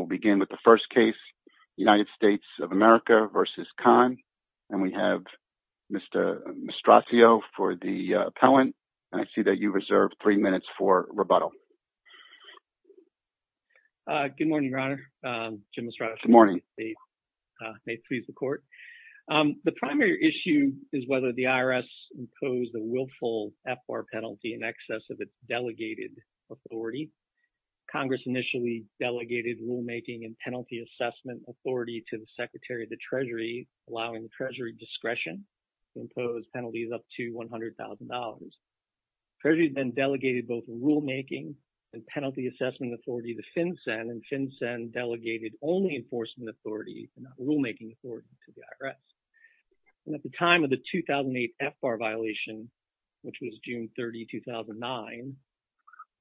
will begin with the first case, United States of America v. Kahn. And we have Mr. Mastraccio for the appellant. And I see that you reserve three minutes for rebuttal. Good morning, Your Honor. Jim Mastraccio. Good morning. May it please the Court. The primary issue is whether the IRS imposed a willful FR penalty in excess of a delegated authority. Congress initially delegated rulemaking and penalty assessment authority to the Secretary of the Treasury, allowing the Treasury discretion to impose penalties up to $100,000. Treasury then delegated both rulemaking and penalty assessment authority to FinCEN, and FinCEN delegated only enforcement authority, not rulemaking authority to the IRS. And at the time of the 2008 FR violation, which was June 30, 2009,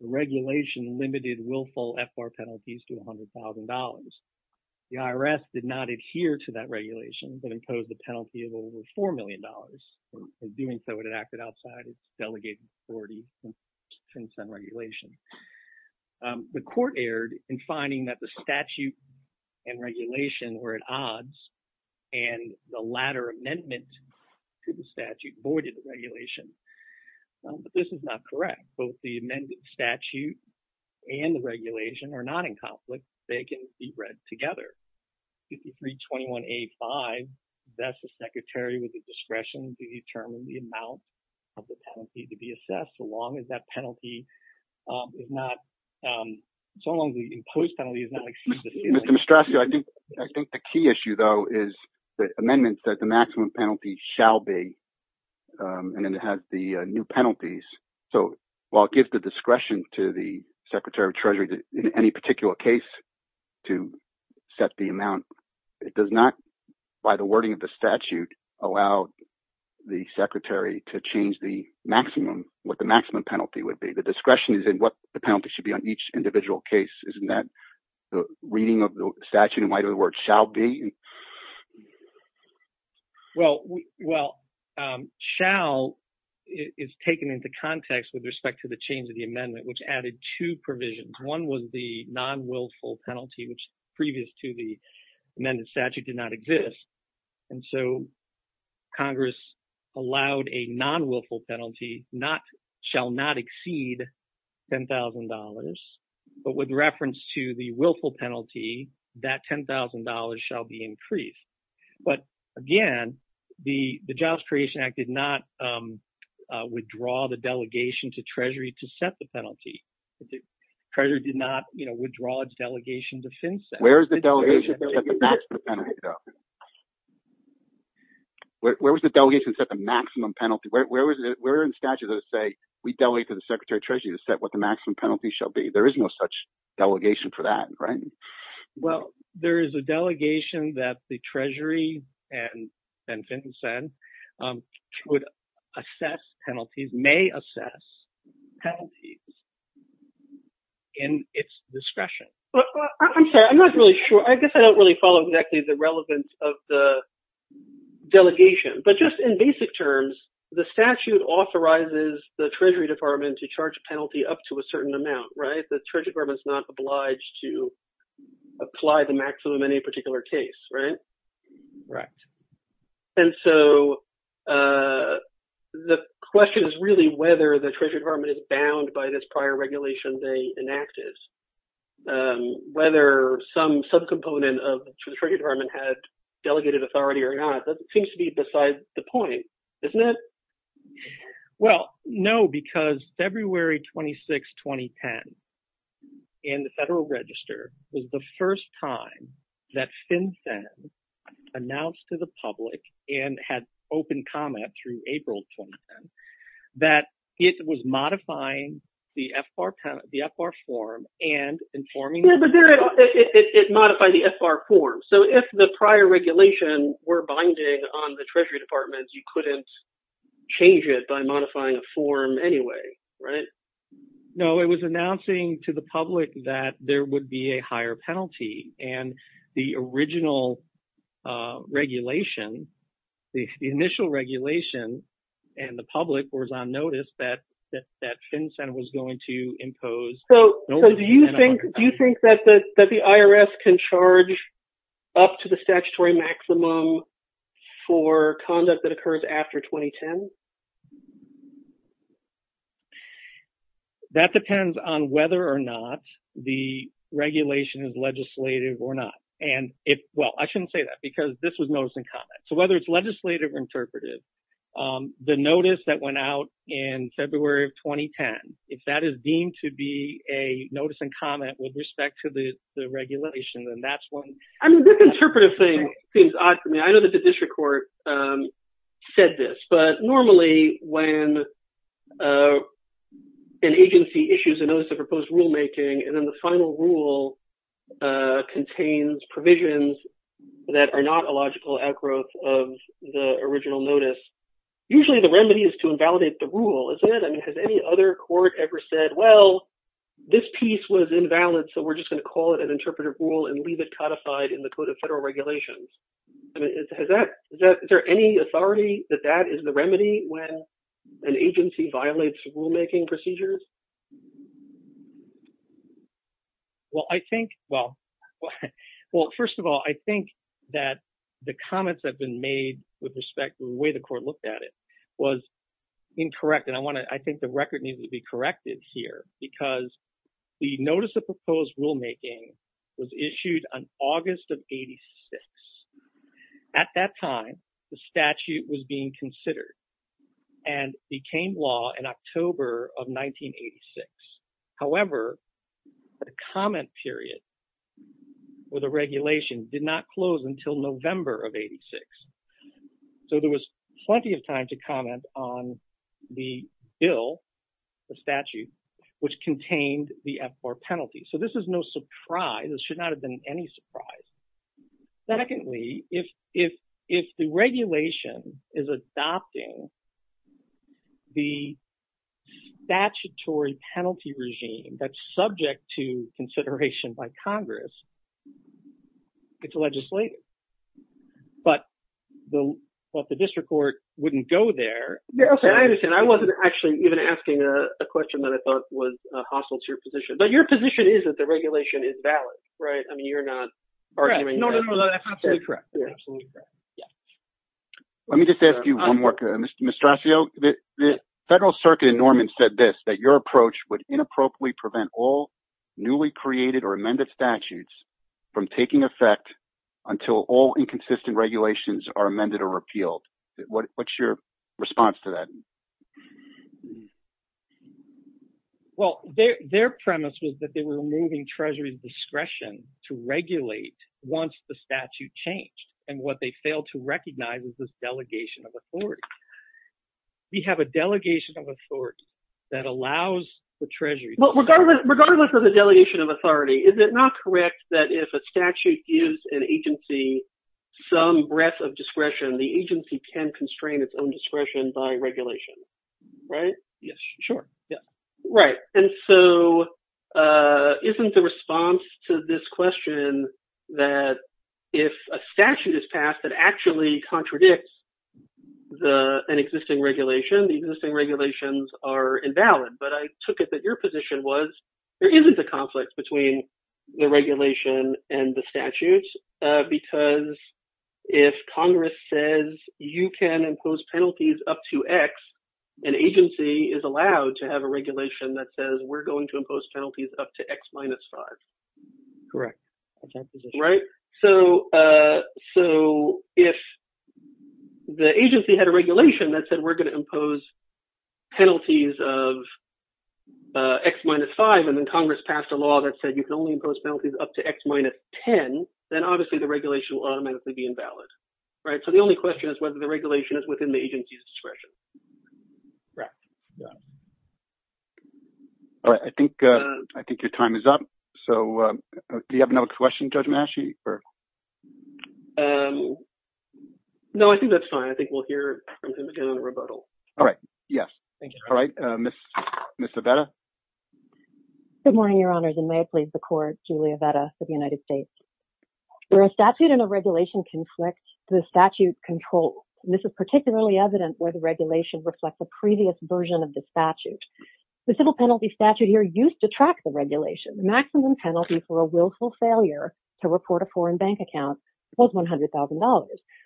the regulation limited willful FR penalties to $100,000. The IRS did not adhere to that regulation, but imposed a penalty of over $4 million. In doing so, it acted outside its delegated authority in FinCEN regulation. The Court erred in finding that the statute and regulation were at odds, and the latter amendment to the statute voided the regulation. But this is not correct. Both the amended statute and the regulation are not in conflict. They can be read together. 5321A5 vests the Secretary with the discretion to determine the amount of the penalty to be assessed, so long as that penalty is not—so long as the imposed penalty is not exceeded. Mr. Mastraccio, I think the key issue, though, is the amendment says the maximum penalty shall be, and then it has the new penalties. So while it gives the discretion to the Secretary of Treasury in any particular case to set the amount, it does not, by the wording of the statute, allow the Secretary to change the maximum, what the maximum penalty would be. The discretion is in what the penalty should be on each individual case, isn't that? The reading of the statute in light of the word shall be? Well, well, shall is taken into context with respect to the change of the amendment, which added two provisions. One was the non-wilful penalty, which previous to the amended statute did not exist, and so Congress allowed a non-wilful penalty, not—shall not exceed $10,000, but with reference to the wilful penalty, that $10,000 shall be increased. But again, the Jobs Creation Act did not withdraw the delegation to Treasury to set the penalty. Treasury did not, you know, withdraw its delegation to FinCEN. Where is the delegation to set the maximum penalty, though? Where was the delegation to set the maximum penalty? Where in the statute does it say, we delegate to the Secretary of Treasury to set what the maximum penalty shall be? There is no such delegation for that, right? Well, there is a delegation that the Treasury and FinCEN would assess penalties, may assess penalties in its discretion. I'm sorry, I'm not really sure. I guess I don't really follow exactly the relevance of the terms. The statute authorizes the Treasury Department to charge a penalty up to a certain amount, right? The Treasury Department is not obliged to apply the maximum in any particular case, right? Right. And so the question is really whether the Treasury Department is bound by this prior regulation they enacted. Whether some subcomponent of the Treasury Department had delegated authority or not, that seems to be besides the point, isn't it? Well, no, because February 26, 2010, in the Federal Register, was the first time that FinCEN announced to the public and had open comment through April 2010, that it was modifying the FR form and informing... It modified the FR form. So if the prior regulation were binding on the Treasury Department, you couldn't change it by modifying a form anyway, right? No, it was announcing to the public that there would be a higher penalty. And the original regulation, the initial regulation, and the public was on notice that FinCEN was going to impose... So do you think that the IRS can charge up to the statutory maximum for conduct that occurs after 2010? That depends on whether or not the regulation is legislative or not. And if... Well, I shouldn't say that because this was notice and comment. So whether it's legislative or interpretive, the notice that went out in February of 2010, if that is deemed to be a notice and comment with respect to the regulation, then that's one... I mean, the interpretive thing seems odd to me. I know that the district court said this, but normally when an agency issues a notice of proposed rulemaking, and then the final rule contains provisions that are not a logical outgrowth of the original notice, usually the remedy is to invalidate the rule, is it? I mean, has any other court ever said, well, this piece was invalid, so we're just going to call it an interpretive rule and leave it codified in the Code of Federal Regulations? I mean, is there any authority that that is the remedy when an agency violates rulemaking procedures? Well, I think... Well, first of all, I think that the comments that have been made with respect to the way the court looked at it was incorrect. And I think the record needs to be corrected here because the notice of proposed rulemaking was issued on August of 86. At that time, the statute was being considered and became law in October of 1986. However, the comment period with a regulation did not close until November of 86. So there was plenty of time to comment on the bill, the statute, which contained the F4 penalty. So this is no surprise. This should be a surprise. But if the regulation is adopting the statutory penalty regime that's subject to consideration by Congress, it's legislative. But if the district court wouldn't go there... Yeah, okay, I understand. I wasn't actually even asking a question that I thought was hostile to your position. But your position is that the regulation is valid, right? I mean, you're not arguing... No, no, no, that's absolutely correct. Let me just ask you one more, Mr. Mastraccio. The Federal Circuit in Norman said this, that your approach would inappropriately prevent all newly created or amended statutes from taking effect until all inconsistent regulations are amended or repealed. What's your response to that? Well, their premise was that they were moving Treasury's discretion to regulate once the delegation of authority. We have a delegation of authority that allows the Treasury... Well, regardless of the delegation of authority, is it not correct that if a statute gives an agency some breadth of discretion, the agency can constrain its own discretion by regulation, right? Yes, sure. Right. And so isn't the response to this question that if a statute is passed, it actually contradicts an existing regulation, the existing regulations are invalid. But I took it that your position was there isn't a conflict between the regulation and the statutes, because if Congress says you can impose penalties up to X, an agency is allowed to have a regulation that says we're going to impose penalties up to X minus five. Correct. At that position. So if the agency had a regulation that said we're going to impose penalties of X minus five, and then Congress passed a law that said you can only impose penalties up to X minus 10, then obviously the regulation will automatically be invalid. So the only question is whether the regulation is within the agency's discretion. Correct. Yeah. All right. I think your time is up. So do you have another question, Judge Mahashey? No, I think that's fine. I think we'll hear from him again in a rebuttal. All right. Yes. All right. Ms. Avetta. Good morning, Your Honors, and may it please the Court, Julia Avetta for the United States. Where a statute and a regulation conflict, the statute controls, and this is particularly evident where the regulation reflects the previous version of the statute. The civil penalty statute here used to track the regulation. The maximum penalty for a willful failure to report a foreign bank account was $100,000.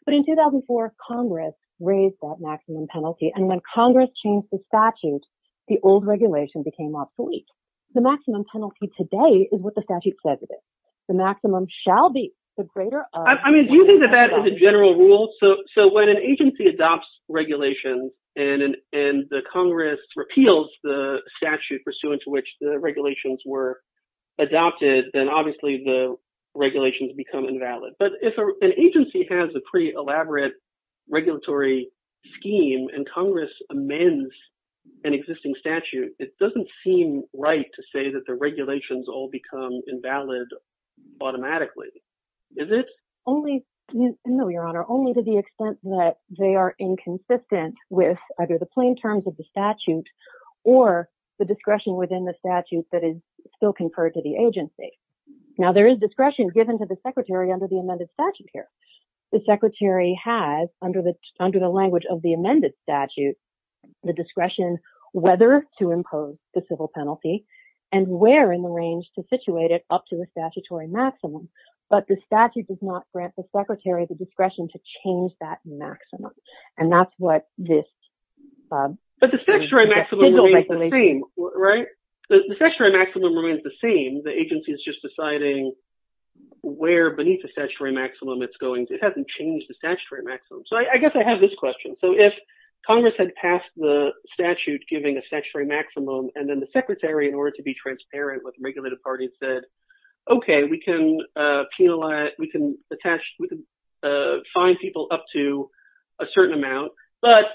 But in 2004, Congress raised that maximum penalty, and when Congress changed the statute, the old regulation became obsolete. The maximum penalty today is what the statute says it is. The maximum shall be the greater of— regulations, and the Congress repeals the statute pursuant to which the regulations were adopted, then obviously the regulations become invalid. But if an agency has a pretty elaborate regulatory scheme and Congress amends an existing statute, it doesn't seem right to say that the regulations all become invalid automatically. Is it? Only—no, Your Honor, only to the extent that they are inconsistent with either the plain terms of the statute or the discretion within the statute that is still conferred to the agency. Now, there is discretion given to the Secretary under the amended statute here. The Secretary has, under the language of the amended statute, the discretion whether to impose the civil penalty and where in the range to situate it up to a statutory maximum, but the statute does not grant the Secretary the discretion to change that maximum, and that's what this— But the statutory maximum remains the same, right? The statutory maximum remains the same. The agency is just deciding where beneath the statutory maximum it's going. It hasn't changed the statutory maximum. So I guess I have this question. So if Congress had passed the statute giving a statutory maximum, and then the Secretary, in order to be transparent with the regulated parties, said, okay, we can penalize—we can attach—we can find people up to a certain amount, but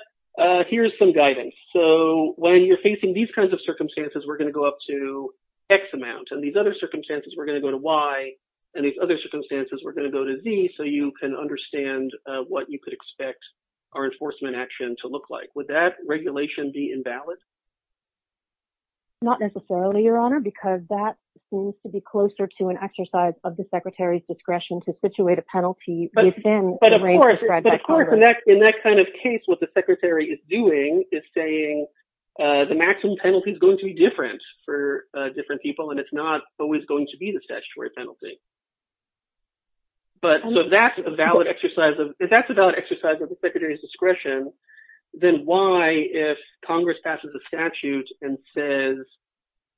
here's some guidance. So when you're facing these kinds of circumstances, we're going to go up to X amount, and these other circumstances, we're going to go to Y, and these other circumstances, we're going to go to Z, so you can understand what you could expect our enforcement action to look like. Would that regulation be invalid? Not necessarily, Your Honor, because that seems to be closer to an exercise of the Secretary's discretion to situate a penalty within the range described by Congress. But of course, in that kind of case, what the Secretary is doing is saying the maximum penalty is going to be different for different people, and it's not always going to be the statutory penalty. But so if that's a valid exercise of the Secretary's discretion, then why, if Congress passes a statute and says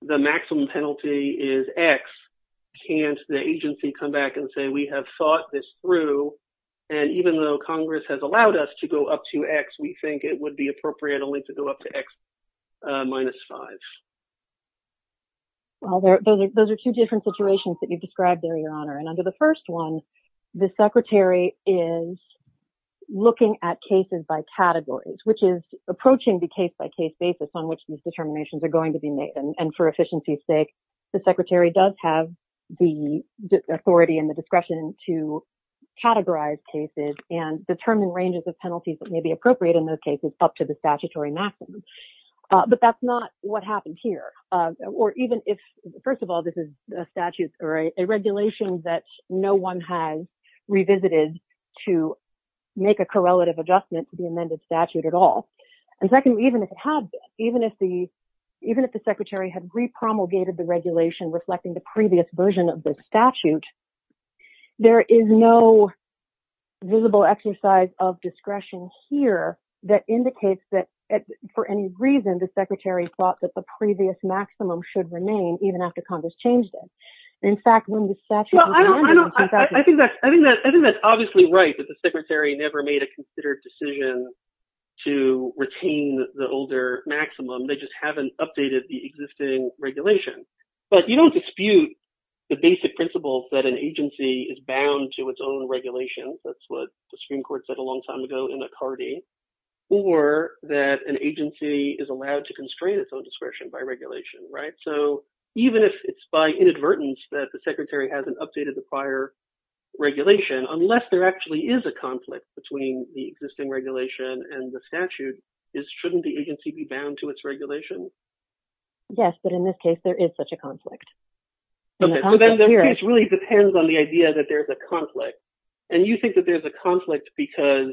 the maximum penalty is X, can't the agency come back and say, we have thought this through, and even though Congress has allowed us to go up to X, we think it would be appropriate only to go up to X minus 5? Well, those are two different situations that you've described there, Your Honor, and under the first one, the Secretary is looking at cases by categories, which is approaching the case-by-case basis on which these determinations are going to be made, and for efficiency's sake, the Secretary does have the authority and the discretion to categorize cases and determine ranges of penalties that may be appropriate in those cases up to the statutory maximum. But that's not what happened here. Or even if, first of all, this is a statute or a regulation that no one has revisited to make a correlative adjustment to the amended statute at all. And secondly, even if it had, even if the Secretary had re-promulgated the regulation reflecting the previous version of this statute, there is no visible exercise of discretion here that indicates that for any reason, the Secretary thought that the previous maximum should remain even after Congress changed it. In fact, when the statute was amended... Well, I think that's obviously right that the Secretary never made a considered decision to retain the older maximum. They just haven't updated the existing regulation. But you don't dispute the basic principles that an agency is bound to its own regulations. That's what the Supreme Court said a long time ago in McCarty. Or that an agency is allowed to constrain its own discretion by regulation, right? So even if it's by inadvertence that the Secretary hasn't updated the prior regulation, unless there actually is a conflict between the existing regulation and the statute, shouldn't the agency be bound to its regulation? Yes, but in this case, there is such a conflict. The case really depends on the idea that there's a conflict. And you think that there's a conflict because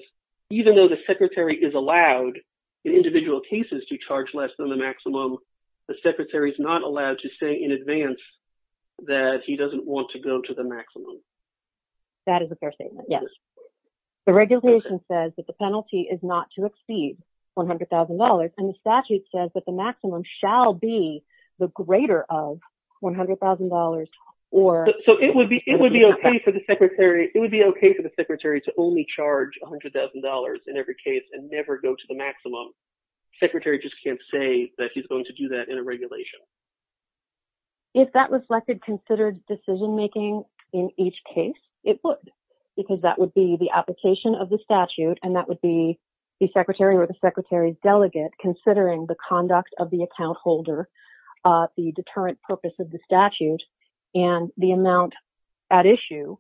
even though the Secretary is allowed in individual cases to charge less than the maximum, the Secretary is not allowed to say in advance that he doesn't want to go to the maximum. That is a fair statement, yes. The regulation says that the penalty is not to exceed $100,000. And the statute says that the maximum shall be the greater of $100,000 or... So it would be okay for the Secretary to only charge $100,000 in every case and never go to the maximum. The Secretary just can't say that he's going to do that in a regulation. If that reflected considered decision-making in each case, it would, because that would be the application of the statute, and that would be the Secretary or the Secretary's delegate considering the conduct of the account holder, the deterrent purpose of the statute, and the amount at issue,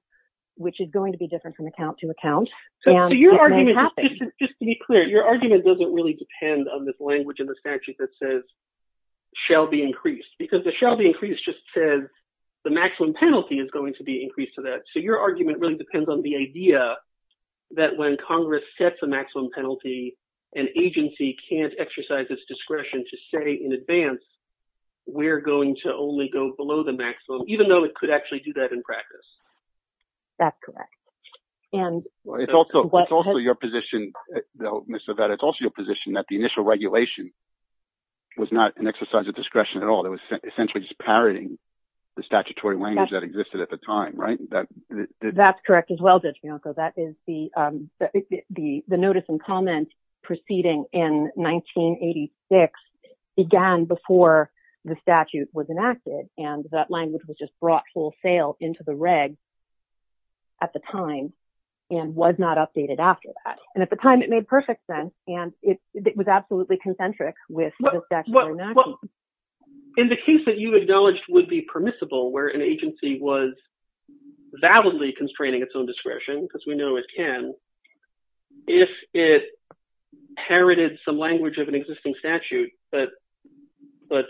which is going to be different from account to account. So your argument, just to be clear, your argument doesn't really depend on this language in the statute that says shall be increased, because the shall be increased just says the maximum penalty is going to be increased to that. So your argument really depends on the idea that when Congress sets a maximum penalty, an agency can't exercise its discretion to say in maximum, even though it could actually do that in practice. That's correct. And... It's also your position, though, Ms. Aveda, it's also your position that the initial regulation was not an exercise of discretion at all. It was essentially just parroting the statutory language that existed at the time, right? That's correct as well, Judge Bianco. The notice and comment proceeding in 1986 began before the statute was enacted, and that language was just brought full sail into the reg at the time, and was not updated after that. And at the time, it made perfect sense, and it was absolutely concentric with the statute. In the case that you acknowledged would be permissible, where an agency was validly constraining its own discretion, because we know it can, if it parroted some language of an existing statute, but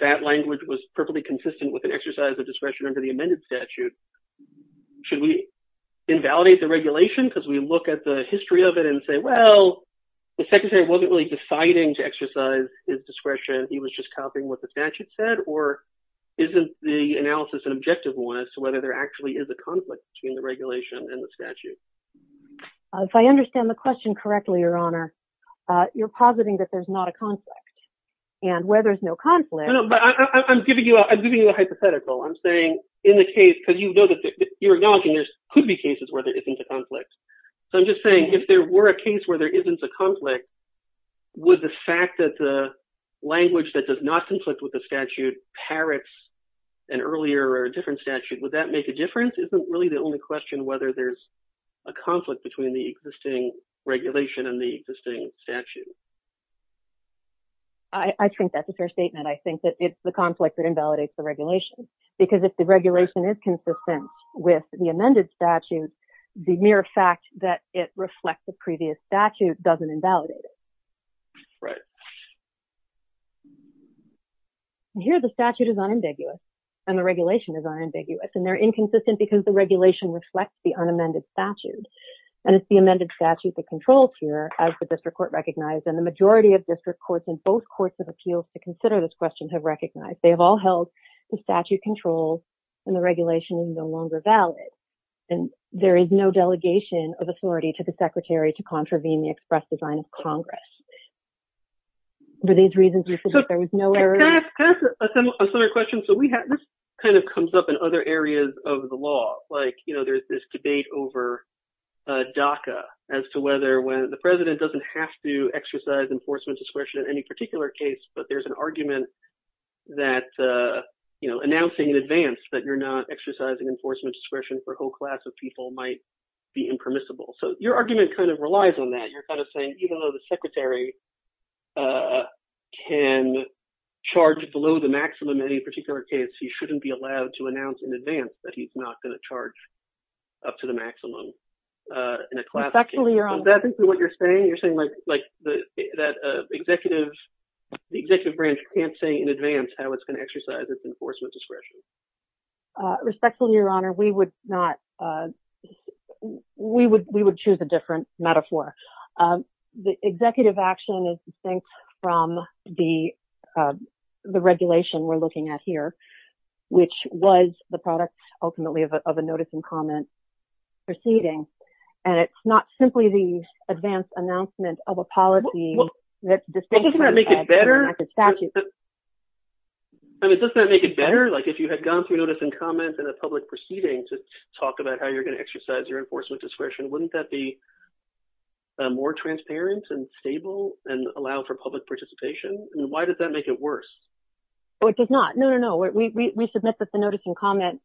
that language was perfectly consistent with an exercise of discretion under the amended statute, should we invalidate the regulation because we look at the history of it and say, well, the Secretary wasn't really deciding to exercise his discretion, he was just copying what the statute said, or isn't the analysis an objective one as to whether there actually is a conflict between the regulation and the statute? If I understand the question correctly, Your Honor, you're positing that there's not a conflict, and where there's no conflict... No, no, but I'm giving you a hypothetical. I'm saying in the case, because you know that you're acknowledging there could be cases where there isn't a conflict. So I'm just saying, if there were a case where there isn't a conflict, would the fact that the language that does not conflict with the statute parrots an earlier or a different statute, would that make a difference? Isn't really the only question whether there's a conflict between the existing regulation and the existing statute? I think that's a fair statement. I think that it's the conflict that invalidates the regulation, because if the regulation is consistent with the amended statute, the mere fact that it reflects the previous statute doesn't invalidate it. Right. Here, the statute is unambiguous, and the regulation is unambiguous, and they're inconsistent because the regulation reflects the unamended statute. And it's the amended statute that controls here, as the district court recognized, and the majority of district courts in both courts of appeals to consider this question have recognized. They have all held the statute controls, and the regulation is no longer valid. And there is no delegation of authority to the secretary to contravene the express design of Congress. For these reasons, there was no error... Can I ask a similar question? This comes up in other areas of the law. There's this debate over DACA as to whether the president doesn't have to exercise enforcement discretion in any particular case, but there's an argument that announcing in advance that you're not exercising enforcement discretion for a whole class of people might be impermissible. So your argument relies on that. Even though the secretary can charge below the maximum in any particular case, he shouldn't be allowed to announce in advance that he's not going to charge up to the maximum in a class of people. Is that exactly what you're saying? You're saying that the executive branch can't say in advance how it's going to exercise its enforcement discretion? Respectfully, Your Honor, we would choose a different metaphor. The executive action is distinct from the regulation we're looking at here, which was the product, ultimately, of a notice and comment proceeding. And it's not simply the if you had gone through notice and comment in a public proceeding to talk about how you're going to exercise your enforcement discretion, wouldn't that be more transparent and stable and allow for public participation? And why does that make it worse? It does not. No, no, no. We submit that the notice and comment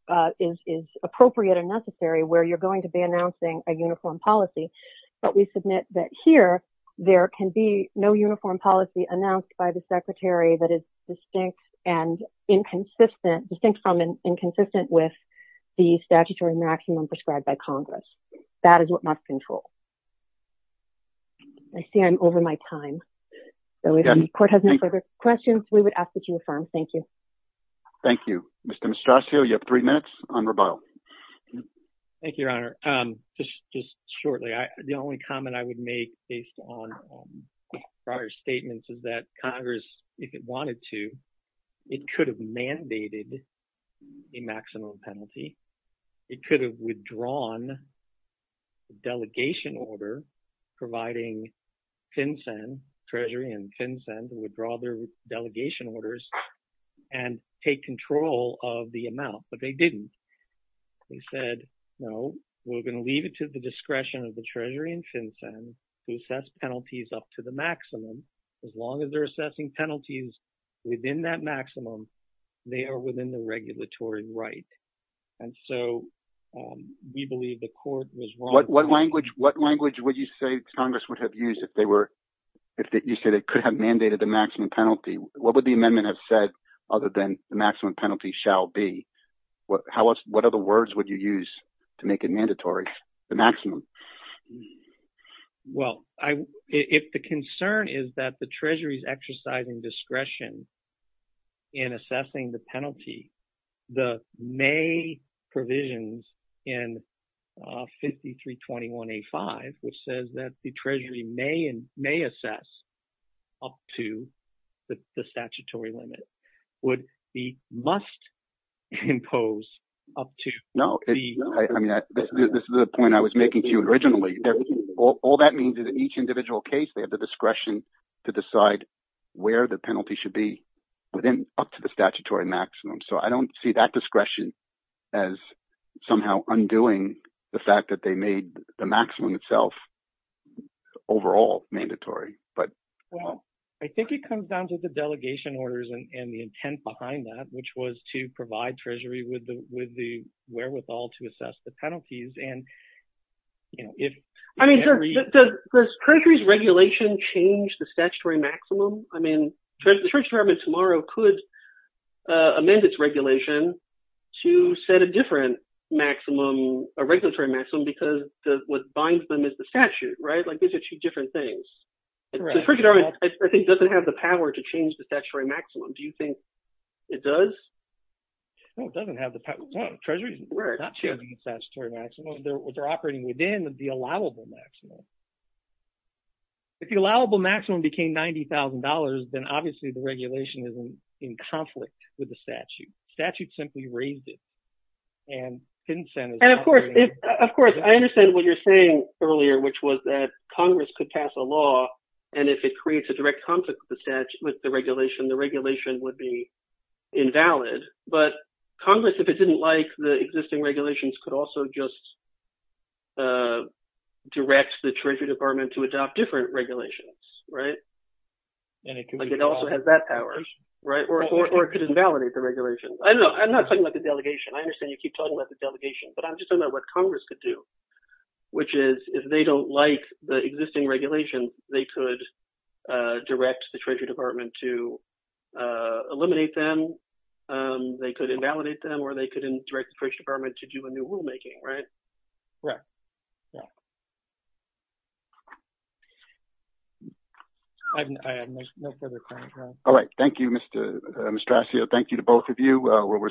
is appropriate and necessary where you're going to be announcing a uniform policy, but we submit that here there can be no uniform policy announced by the secretary that is distinct and inconsistent, distinct from inconsistent with the statutory maximum prescribed by Congress. That is what must control. I see I'm over my time. So if the court has no further questions, we would ask that you affirm. Thank you. Thank you, Mr. Mistracio. You have three minutes on rebuttal. Thank you, Your Honor. Just shortly, the only comment I would make based on prior statements is that Congress, if it wanted to, it could have mandated the maximum penalty. It could have withdrawn the delegation order providing FinCEN, Treasury and FinCEN, to withdraw their delegation orders and take control of the amount, but they didn't. They said, no, we're going to leave it to the discretion of the Treasury and FinCEN to assess penalties up to the maximum. As long as they're assessing penalties within that maximum, they are within the regulatory right. And so we believe the court was wrong. What language would you say Congress would have used if they could have mandated the maximum penalty? What would the amendment have said other than the maximum penalty shall be? What other words would you use to make it mandatory, the maximum? Well, if the concern is that the Treasury is exercising discretion in assessing the penalty, the May provisions in 5321A.5, which says that the Treasury may assess up to the statutory limit, would be must impose up to. No, I mean, this is the point I was making to you originally. All that means is in each individual case, they have the discretion to decide where the penalty should be up to the statutory maximum. So I don't see that discretion as somehow undoing the fact that they made the maximum itself overall mandatory. Well, I think it comes down to the delegation orders and the intent behind that, which was to provide Treasury with the wherewithal to assess the penalties. Does Treasury's regulation change the statutory maximum? I mean, the Treasury Department tomorrow could amend its regulation to set a different maximum, a regulatory maximum, because what binds them is the statute, right? Like these are two different things. The Treasury Department, I think, doesn't have the power to change the statutory maximum. Do you think it does? No, it doesn't have the power. Treasury is not changing the statutory maximum. They're operating within the allowable maximum. If the allowable maximum became $90,000, then obviously the regulation is in conflict with the statute. Statute simply raised it. And of course, I understand what you're saying earlier, which was that Congress could pass a law, and if it creates a direct conflict with the regulation, the regulation would be invalid. But Congress, if it didn't like the existing regulations, could also just direct the Treasury Department to adopt different regulations, right? Like it also has that power, right? Or it could invalidate the regulations. I don't know. I'm not talking about the delegation. I understand you keep talking about the delegation, but I'm just talking about what Congress could do, which is if they don't like the existing regulations, they could direct the Treasury Department to eliminate them. They could invalidate them, they could direct the Treasury Department to do a new rulemaking, right? All right. Thank you, Mr. Mastraccio. Thank you to both of you.